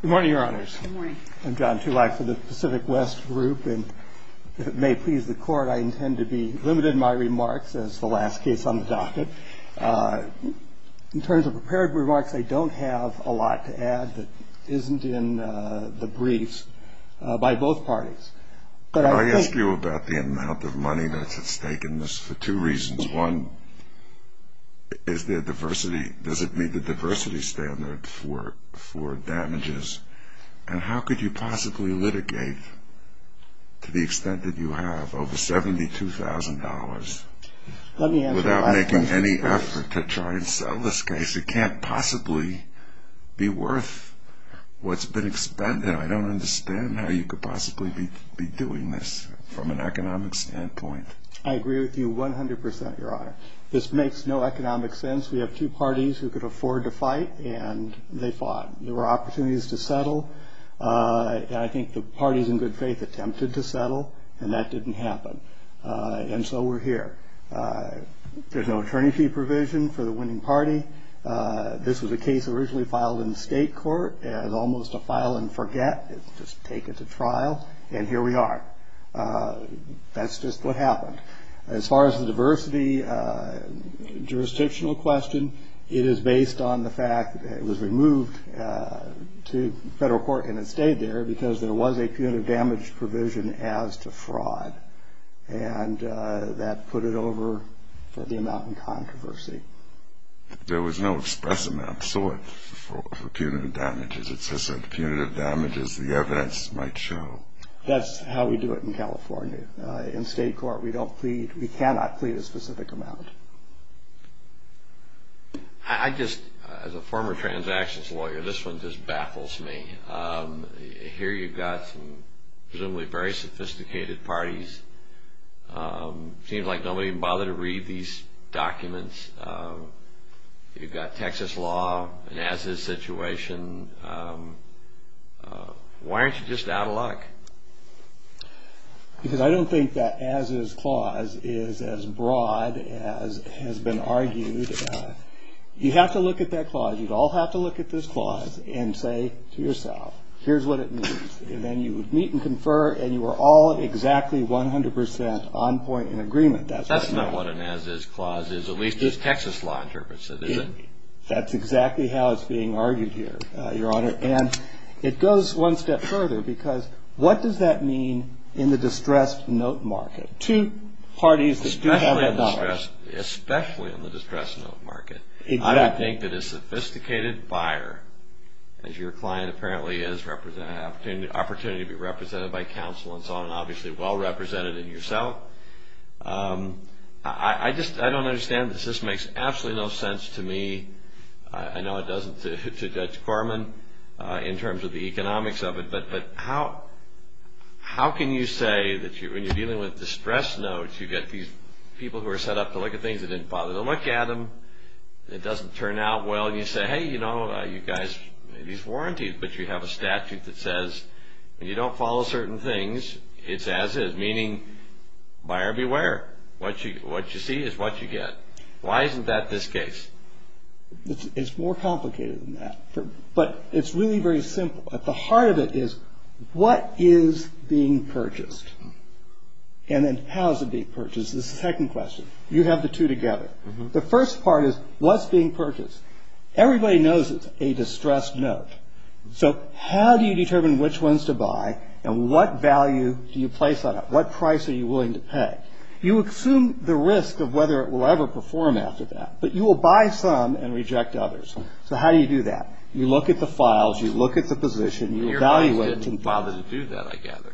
Good morning, your honors. I'm John Tulak for the Pacific West Group, and if it may please the court, I intend to be limited in my remarks as the last case on the docket. In terms of prepared remarks, I don't have a lot to add that isn't in the briefs by both parties. I ask you about the amount of money that's at stake in this for two reasons. One, is there diversity? Does it meet the diversity standard for damages? And how could you possibly litigate to the extent that you have over $72,000 without making any effort to try and sell this case? Because it can't possibly be worth what's been expended. I don't understand how you could possibly be doing this from an economic standpoint. I agree with you 100%, your honor. This makes no economic sense. We have two parties who could afford to fight, and they fought. There were opportunities to settle, and I think the parties in good faith attempted to settle, and that didn't happen. And so we're here. There's no attorney fee provision for the winning party. This was a case originally filed in the state court as almost a file and forget. It's just taken to trial, and here we are. That's just what happened. As far as the diversity jurisdictional question, it is based on the fact that it was removed to federal court and it stayed there because there was a punitive damage provision as to fraud, and that put it over for the amount in controversy. There was no express amount sought for punitive damages. It's just that punitive damages, the evidence might show. That's how we do it in California. In state court, we cannot plead a specific amount. I just, as a former transactions lawyer, this one just baffles me. Here you've got some presumably very sophisticated parties. Seems like nobody would bother to read these documents. You've got Texas law, an as-is situation. Why aren't you just out of luck? Because I don't think that as-is clause is as broad as has been argued. You'd have to look at that clause. You'd all have to look at this clause and say to yourself, here's what it means. And then you would meet and confer, and you were all exactly 100 percent on point in agreement. That's not what an as-is clause is, at least as Texas law interprets it, is it? That's exactly how it's being argued here, Your Honor. And it goes one step further, because what does that mean in the distressed note market? Two parties that do have that knowledge. Especially in the distressed note market. I would think that a sophisticated buyer, as your client apparently is, has an opportunity to be represented by counsel and so on, obviously well represented in yourself. I just don't understand this. This makes absolutely no sense to me. I know it doesn't to Judge Corman in terms of the economics of it, but how can you say that when you're dealing with distressed notes, you've got these people who are set up to look at things that didn't bother to look at them. It doesn't turn out well, and you say, hey, you know, you guys, these warranties, but you have a statute that says when you don't follow certain things, it's as-is. Meaning, buyer beware. What you see is what you get. Why isn't that this case? It's more complicated than that. But it's really very simple. At the heart of it is, what is being purchased? And then how is it being purchased is the second question. You have the two together. The first part is, what's being purchased? Everybody knows it's a distressed note. So how do you determine which ones to buy, and what value do you place on it? What price are you willing to pay? You assume the risk of whether it will ever perform after that. But you will buy some and reject others. So how do you do that? You look at the files. You look at the position. You evaluate it. Your buddy didn't bother to do that, I gather.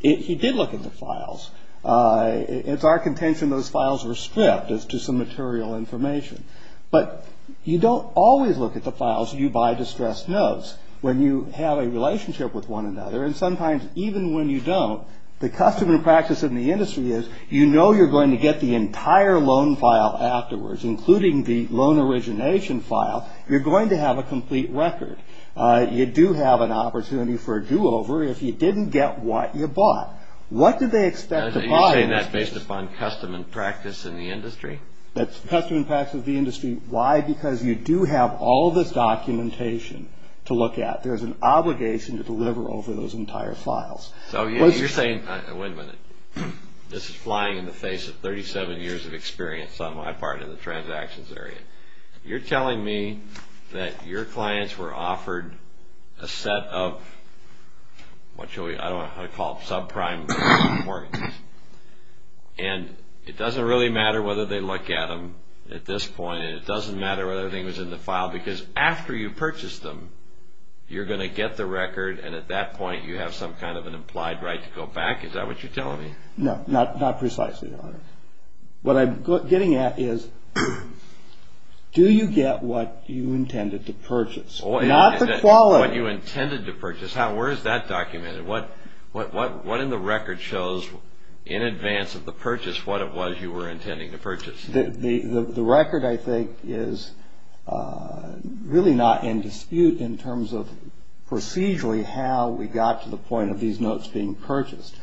He did look at the files. It's our contention those files were stripped as to some material information. But you don't always look at the files you buy distressed notes. When you have a relationship with one another, and sometimes even when you don't, the custom and practice in the industry is you know you're going to get the entire loan file afterwards, including the loan origination file. You're going to have a complete record. You do have an opportunity for a do-over if you didn't get what you bought. What do they expect to buy in this case? You say that based upon custom and practice in the industry? That's custom and practice in the industry. Why? Because you do have all this documentation to look at. There's an obligation to deliver over those entire files. So you're saying, wait a minute. This is flying in the face of 37 years of experience on my part in the transactions area. You're telling me that your clients were offered a set of what I call subprime mortgages. And it doesn't really matter whether they look at them at this point, and it doesn't matter whether everything was in the file, because after you purchase them, you're going to get the record, and at that point you have some kind of an implied right to go back? Is that what you're telling me? No, not precisely, Your Honor. What I'm getting at is do you get what you intended to purchase? Not the quality. What you intended to purchase. Where is that documented? What in the record shows in advance of the purchase what it was you were intending to purchase? The record, I think, is really not in dispute in terms of procedurally how we got to the point of these notes being purchased.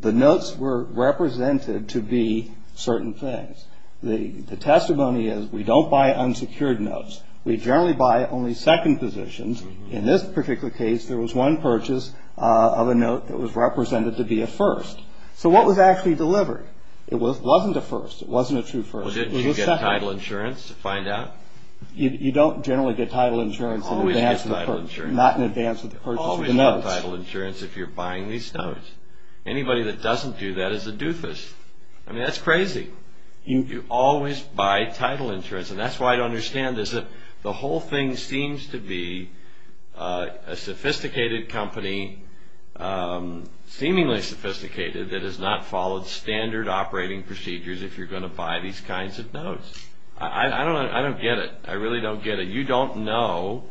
The notes were represented to be certain things. The testimony is we don't buy unsecured notes. We generally buy only second positions. In this particular case, there was one purchase of a note that was represented to be a first. So what was actually delivered? It wasn't a first. It wasn't a true first. It was a second. Well, didn't you get title insurance to find out? You don't generally get title insurance in advance of the purchase. Always get title insurance. Not in advance of the purchase of the notes. You always get title insurance if you're buying these notes. Anybody that doesn't do that is a doofus. I mean, that's crazy. You always buy title insurance. And that's why I don't understand this. The whole thing seems to be a sophisticated company, seemingly sophisticated, that has not followed standard operating procedures if you're going to buy these kinds of notes. I don't get it. I really don't get it. You don't know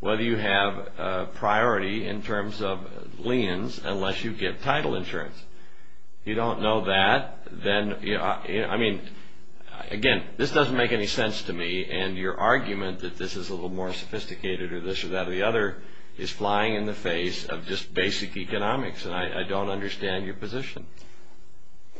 whether you have priority in terms of liens unless you get title insurance. You don't know that. I mean, again, this doesn't make any sense to me, and your argument that this is a little more sophisticated or this or that or the other is flying in the face of just basic economics, and I don't understand your position.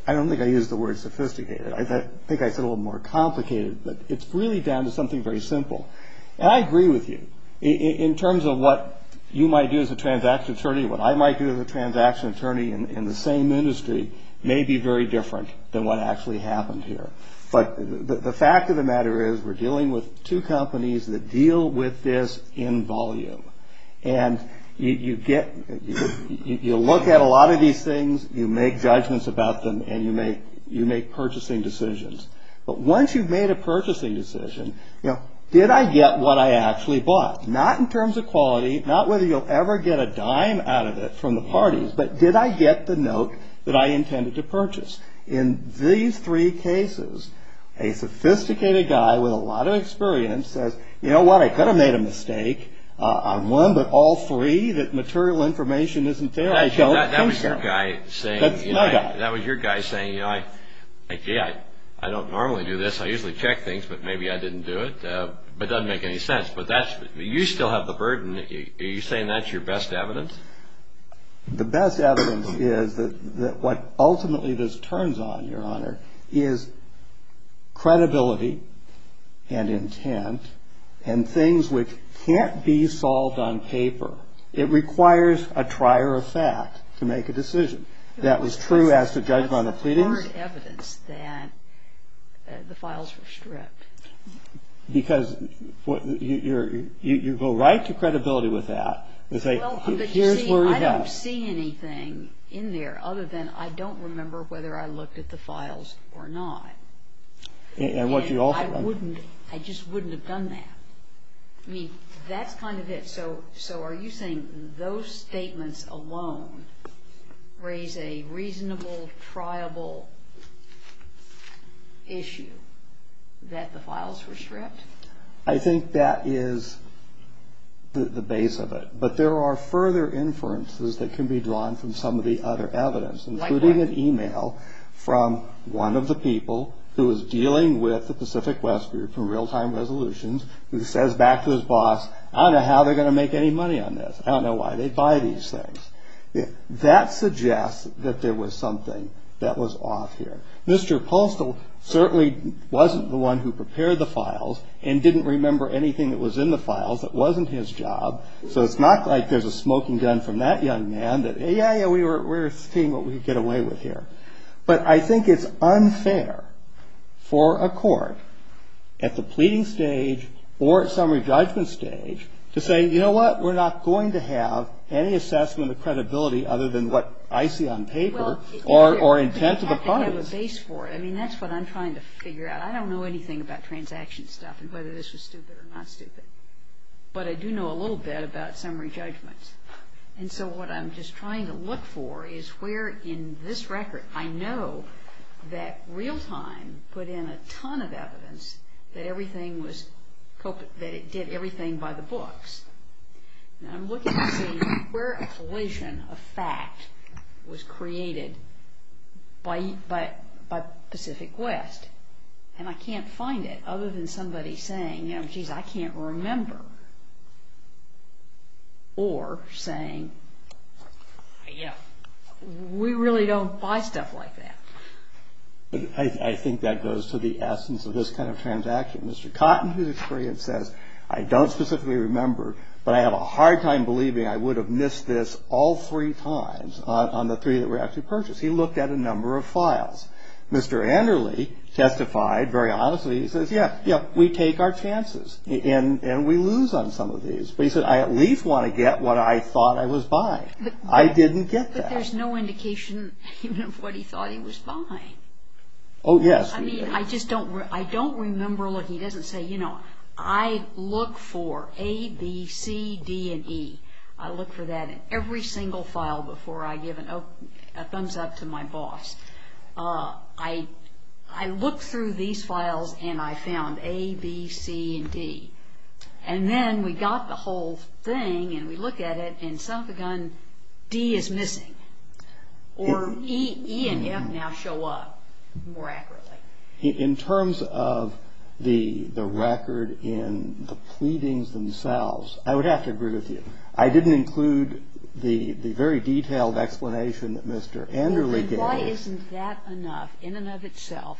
I don't think I used the word sophisticated. I think I said a little more complicated, but it's really down to something very simple. And I agree with you in terms of what you might do as a transaction attorney, what I might do as a transaction attorney in the same industry may be very different than what actually happened here. But the fact of the matter is we're dealing with two companies that deal with this in volume, and you look at a lot of these things, you make judgments about them, and you make purchasing decisions. But once you've made a purchasing decision, did I get what I actually bought? Not in terms of quality, not whether you'll ever get a dime out of it from the parties, but did I get the note that I intended to purchase? In these three cases, a sophisticated guy with a lot of experience says, you know what, I could have made a mistake on one, but all three, that material information isn't there. I don't think so. That was your guy saying, you know, I don't normally do this. I usually check things, but maybe I didn't do it. It doesn't make any sense, but you still have the burden. Are you saying that's your best evidence? The best evidence is that what ultimately this turns on, Your Honor, is credibility and intent and things which can't be solved on paper. It requires a trier of fact to make a decision. That was true as to judgment of pleadings. There's hard evidence that the files were stripped. Because you go right to credibility with that. I don't see anything in there other than I don't remember whether I looked at the files or not. I just wouldn't have done that. I mean, that's kind of it. So are you saying those statements alone raise a reasonable, triable issue that the files were stripped? I think that is the base of it. But there are further inferences that can be drawn from some of the other evidence, including an e-mail from one of the people who is dealing with the Pacific West Group who says back to his boss, I don't know how they're going to make any money on this. I don't know why they buy these things. That suggests that there was something that was off here. Mr. Postol certainly wasn't the one who prepared the files and didn't remember anything that was in the files that wasn't his job. So it's not like there's a smoking gun from that young man that, yeah, yeah, we're seeing what we can get away with here. But I think it's unfair for a court at the pleading stage or at summary judgment stage to say, you know what? We're not going to have any assessment of credibility other than what I see on paper or intent of the parties. Well, you have to have a base for it. I mean, that's what I'm trying to figure out. I don't know anything about transaction stuff and whether this was stupid or not stupid. But I do know a little bit about summary judgments. And so what I'm just trying to look for is where in this record, I know that Realtime put in a ton of evidence that it did everything by the books. And I'm looking to see where a collision of fact was created by Pacific West. And I can't find it other than somebody saying, you know, geez, I can't remember. Or saying, you know, we really don't buy stuff like that. I think that goes to the essence of this kind of transaction. Mr. Cotton, who's experienced, says, I don't specifically remember, but I have a hard time believing I would have missed this all three times on the three that were actually purchased. He looked at a number of files. Mr. Anderle testified very honestly. He says, yeah, we take our chances. And we lose on some of these. But he said, I at least want to get what I thought I was buying. I didn't get that. But there's no indication of what he thought he was buying. Oh, yes. I mean, I just don't remember. Look, he doesn't say, you know, I look for A, B, C, D, and E. I look for that in every single file before I give a thumbs-up to my boss. I look through these files, and I found A, B, C, and D. And then we got the whole thing, and we look at it, and son-of-a-gun, D is missing. Or E and F now show up more accurately. In terms of the record in the pleadings themselves, I would have to agree with you. I didn't include the very detailed explanation that Mr. Anderle gave. Why isn't that enough in and of itself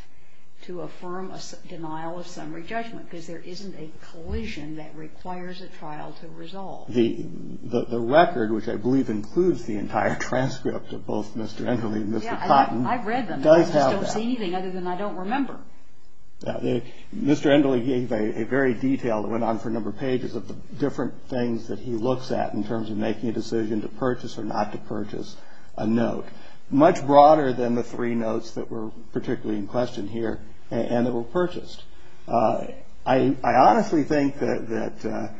to affirm a denial of summary judgment? Because there isn't a collision that requires a trial to resolve. The record, which I believe includes the entire transcript of both Mr. Anderle and Mr. Cotton, does have that. I've read them. I just don't see anything other than I don't remember. Mr. Anderle gave a very detailed, it went on for a number of pages, of the different things that he looks at in terms of making a decision to purchase or not to purchase a note, much broader than the three notes that were particularly in question here and that were purchased. I honestly think that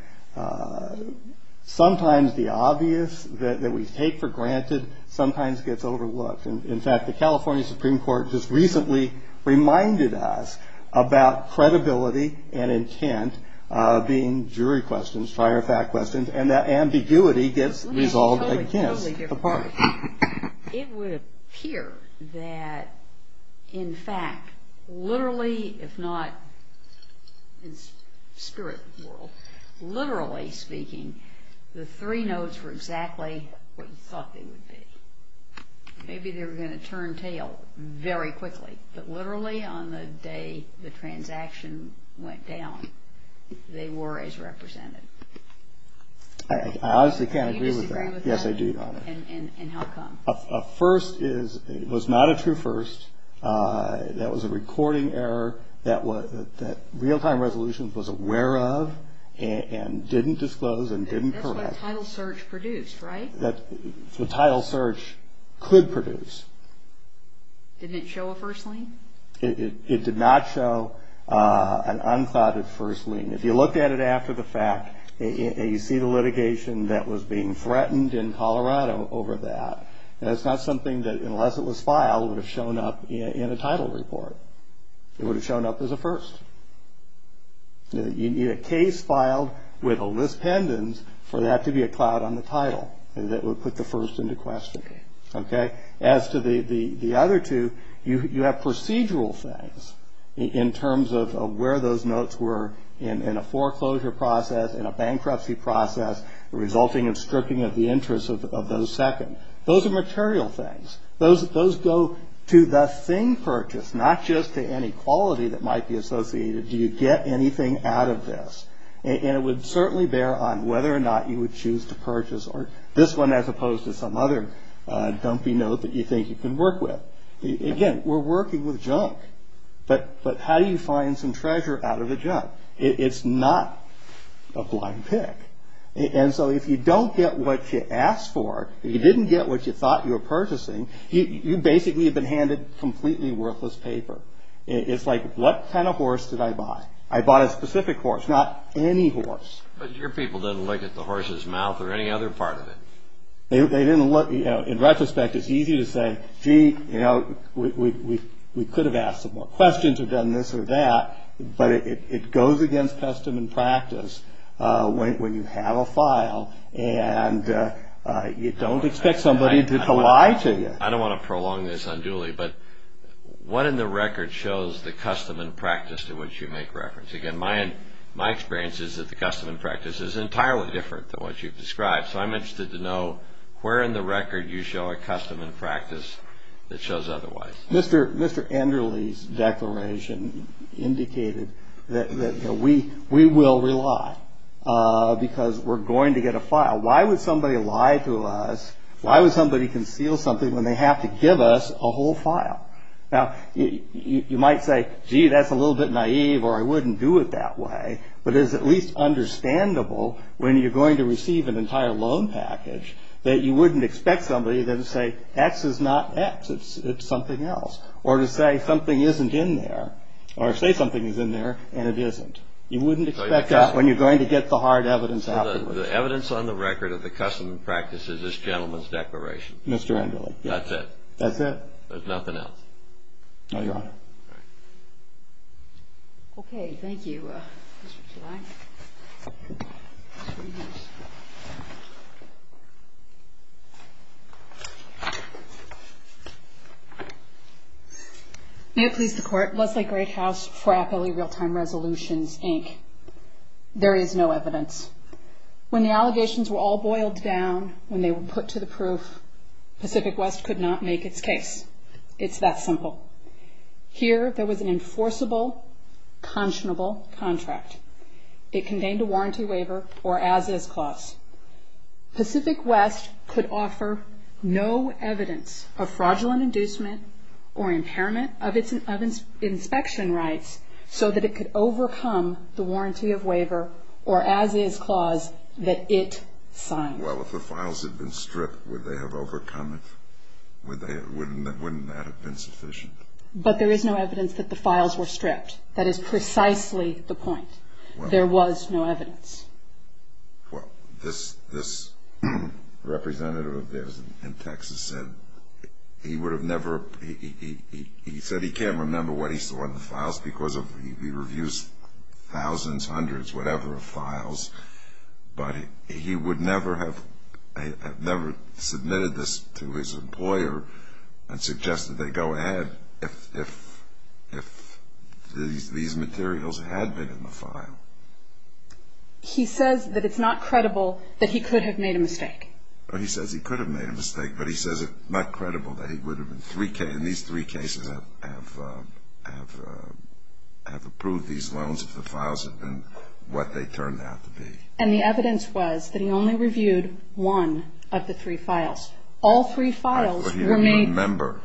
sometimes the obvious that we take for granted sometimes gets overlooked. In fact, the California Supreme Court just recently reminded us about credibility and intent being jury questions, prior fact questions, and that ambiguity gets resolved against the parties. It would appear that, in fact, literally if not in spirit world, literally speaking, the three notes were exactly what you thought they would be. Maybe they were going to turn tail very quickly, but literally on the day the transaction went down, they were as represented. I honestly can't agree with that. Do you disagree with that? Yes, I do, Your Honor. And how come? A first is, it was not a true first. That was a recording error that real-time resolutions was aware of and didn't disclose and didn't correct. That's what title search produced, right? That's what title search could produce. Didn't it show a first lien? It did not show an unclouded first lien. If you looked at it after the fact and you see the litigation that was being threatened in Colorado over that, that's not something that, unless it was filed, would have shown up in a title report. It would have shown up as a first. You need a case filed with a list pendens for that to be a cloud on the title. That would put the first into question. Okay? As to the other two, you have procedural things in terms of where those notes were in a foreclosure process, in a bankruptcy process, resulting in stripping of the interest of those second. Those are material things. Those go to the thing purchased, not just to any quality that might be associated. Do you get anything out of this? And it would certainly bear on whether or not you would choose to purchase this one as opposed to some other dumpy note that you think you can work with. Again, we're working with junk. But how do you find some treasure out of the junk? It's not a blind pick. And so if you don't get what you asked for, if you didn't get what you thought you were purchasing, you basically have been handed completely worthless paper. It's like, what kind of horse did I buy? I bought a specific horse, not any horse. But your people didn't look at the horse's mouth or any other part of it. They didn't look. In retrospect, it's easy to say, gee, we could have asked some more questions or done this or that. But it goes against custom and practice when you have a file and you don't expect somebody to lie to you. I don't want to prolong this unduly, but what in the record shows the custom and practice to which you make reference? Again, my experience is that the custom and practice is entirely different than what you've described. So I'm interested to know where in the record you show a custom and practice that shows otherwise. Mr. Enderle's declaration indicated that we will rely because we're going to get a file. Why would somebody lie to us? Why would somebody conceal something when they have to give us a whole file? Now, you might say, gee, that's a little bit naive or I wouldn't do it that way. But it is at least understandable when you're going to receive an entire loan package that you wouldn't expect somebody to say X is not X. It's something else. Or to say something isn't in there or say something is in there and it isn't. You wouldn't expect that when you're going to get the hard evidence afterwards. The evidence on the record of the custom and practice is this gentleman's declaration. Mr. Enderle. That's it. That's it. There's nothing else. No, Your Honor. All right. Okay. Thank you, Mr. Klein. Thank you. May it please the Court. Leslie Greathouse for Appellee Real-Time Resolutions, Inc. There is no evidence. When the allegations were all boiled down, when they were put to the proof, Pacific West could not make its case. It's that simple. Here there was an enforceable, conscionable contract. It contained a warranty waiver or as-is clause. Pacific West could offer no evidence of fraudulent inducement or impairment of inspection rights so that it could overcome the warranty of waiver or as-is clause that it signed. Well, if the files had been stripped, would they have overcome it? Wouldn't that have been sufficient? But there is no evidence that the files were stripped. That is precisely the point. There was no evidence. Well, this representative of theirs in Texas said he would have never, he said he can't remember what he saw in the files because he reviews thousands, hundreds, whatever, of files. But he would never have submitted this to his employer and suggested they go ahead if these materials had been in the file. He says that it's not credible that he could have made a mistake. He says he could have made a mistake, but he says it's not credible that he would have in these three cases have approved these loans if the files had been what they turned out to be. And the evidence was that he only reviewed one of the three files. All three files were made. But he didn't remember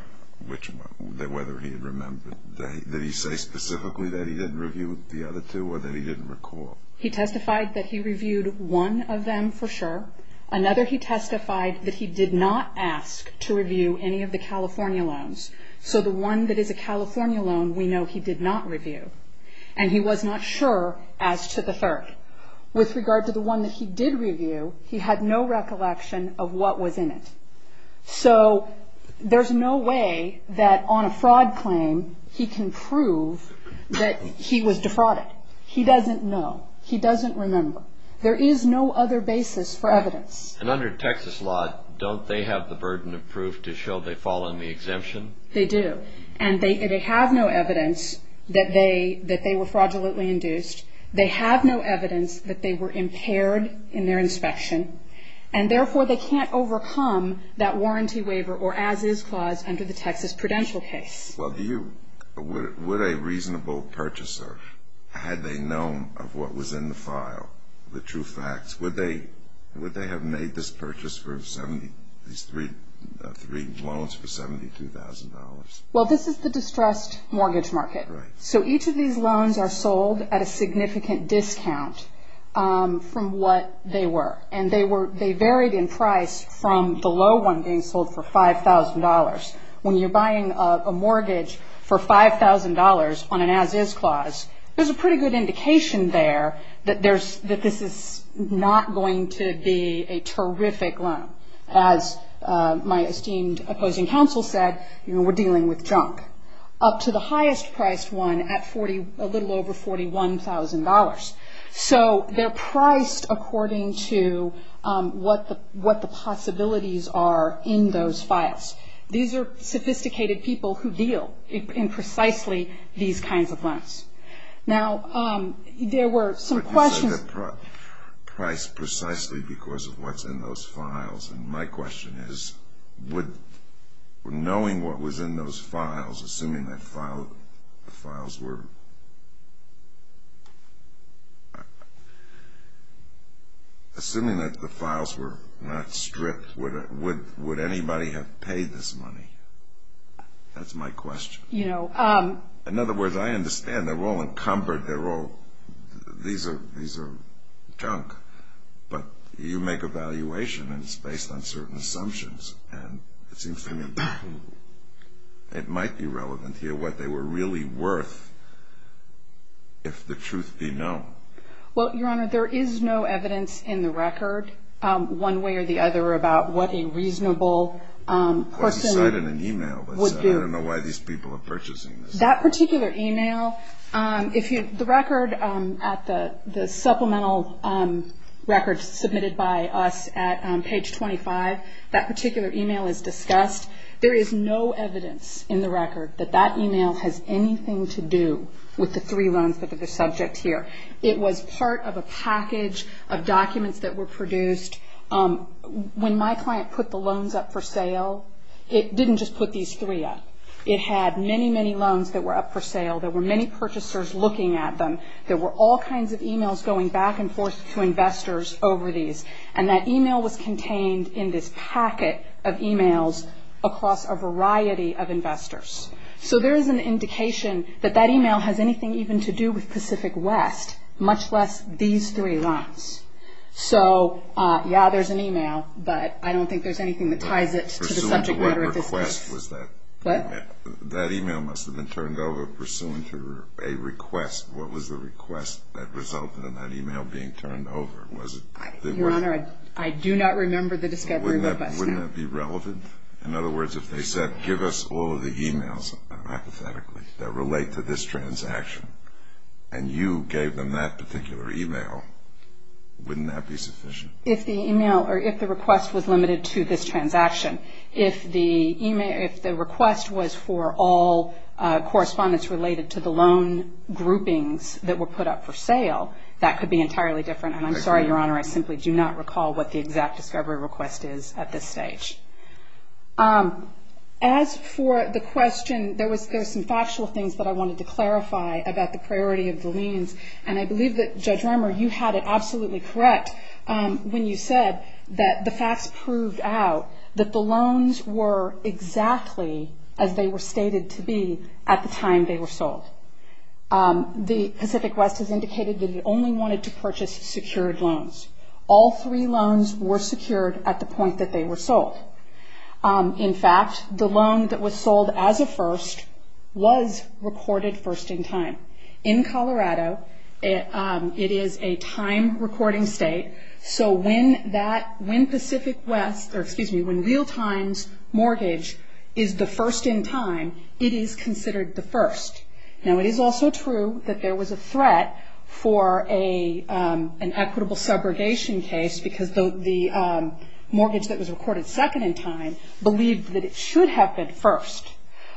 whether he had remembered. Did he say specifically that he didn't review the other two or that he didn't recall? He testified that he reviewed one of them for sure. Another, he testified that he did not ask to review any of the California loans. So the one that is a California loan, we know he did not review. And he was not sure as to the third. With regard to the one that he did review, he had no recollection of what was in it. So there's no way that on a fraud claim he can prove that he was defrauded. He doesn't know. He doesn't remember. There is no other basis for evidence. And under Texas law, don't they have the burden of proof to show they fall under the exemption? They do. And they have no evidence that they were fraudulently induced. They have no evidence that they were impaired in their inspection. And therefore, they can't overcome that warranty waiver or as-is clause under the Texas Prudential case. Well, were they a reasonable purchaser? Had they known of what was in the file, the true facts? Would they have made this purchase for these three loans for $72,000? Well, this is the distressed mortgage market. Right. So each of these loans are sold at a significant discount from what they were. And they varied in price from the low one being sold for $5,000. When you're buying a mortgage for $5,000 on an as-is clause, there's a pretty good indication there that this is not going to be a terrific loan. As my esteemed opposing counsel said, we're dealing with junk. Up to the highest priced one at a little over $41,000. So they're priced according to what the possibilities are in those files. These are sophisticated people who deal in precisely these kinds of loans. Now, there were some questions. But you said they're priced precisely because of what's in those files. And my question is, knowing what was in those files, assuming that the files were not stripped, would anybody have paid this money? That's my question. In other words, I understand they're all encumbered. These are junk. But you make a valuation, and it's based on certain assumptions. And it seems to me it might be relevant to hear what they were really worth if the truth be known. Well, Your Honor, there is no evidence in the record, one way or the other, about what a reasonable person would do. I don't know why these people are purchasing this. That particular email, the record at the supplemental record submitted by us at page 25, that particular email is discussed. There is no evidence in the record that that email has anything to do with the three loans that are the subject here. It was part of a package of documents that were produced. When my client put the loans up for sale, it didn't just put these three up. It had many, many loans that were up for sale. There were many purchasers looking at them. There were all kinds of emails going back and forth to investors over these. And that email was contained in this packet of emails across a variety of investors. So there is an indication that that email has anything even to do with Pacific West, much less these three loans. So, yeah, there's an email, but I don't think there's anything that ties it to the subject matter of this case. Pursuant to what request was that? What? That email must have been turned over pursuant to a request. What was the request that resulted in that email being turned over? Your Honor, I do not remember the discovery of us. Wouldn't that be relevant? In other words, if they said, give us all of the emails, hypothetically, that relate to this transaction, and you gave them that particular email, wouldn't that be sufficient? If the email or if the request was limited to this transaction, if the request was for all correspondence related to the loan groupings that were put up for sale, that could be entirely different. And I'm sorry, Your Honor, I simply do not recall what the exact discovery request is at this stage. As for the question, there was some factual things that I wanted to clarify about the priority of the liens, and I believe that, Judge Remmer, you had it absolutely correct when you said that the facts proved out that the loans were exactly as they were stated to be at the time they were sold. The Pacific West has indicated that it only wanted to purchase secured loans. All three loans were secured at the point that they were sold. In fact, the loan that was sold as a first was recorded first in time. In Colorado, it is a time-recording state, so when Pacific West, or excuse me, when Realtime's mortgage is the first in time, it is considered the first. Now, it is also true that there was a threat for an equitable subrogation case, because the mortgage that was recorded second in time believed that it should have been first.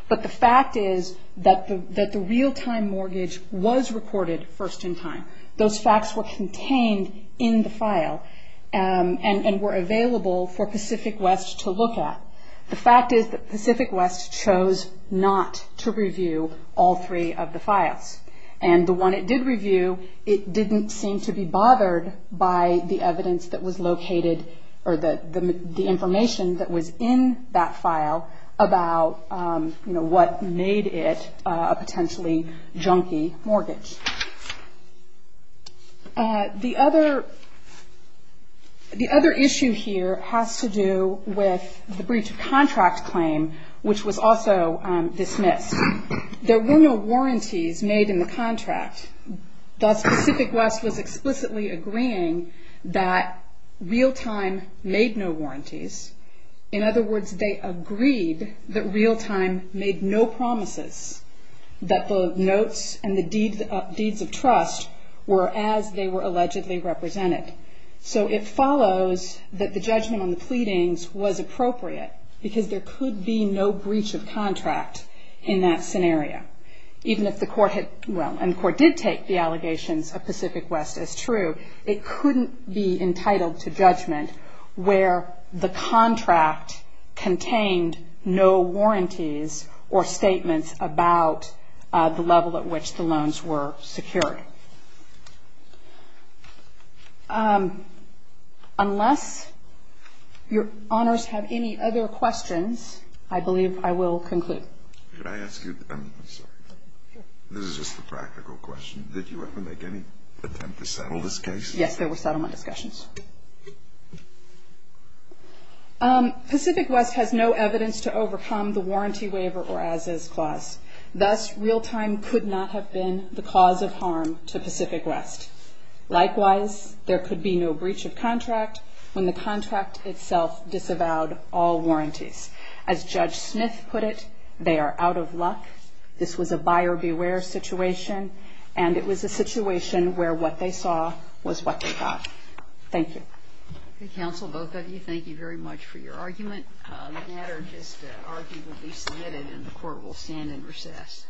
But the fact is that the Realtime mortgage was recorded first in time. Those facts were contained in the file and were available for Pacific West to look at. The fact is that Pacific West chose not to review all three of the files. And the one it did review, it didn't seem to be bothered by the evidence that was located, or the information that was in that file about what made it a potentially junky mortgage. The other issue here has to do with the breach of contract claim, which was also dismissed. There were no warranties made in the contract. Thus, Pacific West was explicitly agreeing that Realtime made no warranties. In other words, they agreed that Realtime made no promises that the notes and the deeds of trust were as they were allegedly represented. So it follows that the judgment on the pleadings was appropriate, because there could be no breach of contract in that scenario. Even if the court did take the allegations of Pacific West as true, it couldn't be entitled to judgment where the contract contained no warranties or statements about the level at which the loans were secured. Unless Your Honors have any other questions, I believe I will conclude. Can I ask you? I'm sorry. Sure. This is just a practical question. Did you ever make any attempt to settle this case? Yes, there were settlement discussions. Pacific West has no evidence to overcome the warranty waiver or as-is clause. Thus, Realtime could not have been the cause of harm to Pacific West. Likewise, there could be no breach of contract when the contract itself disavowed all warranties. As Judge Smith put it, they are out of luck. This was a buyer beware situation, and it was a situation where what they saw was what they got. Thank you. Counsel, both of you, thank you very much for your argument. The matter just argued will be submitted and the court will stand in recess.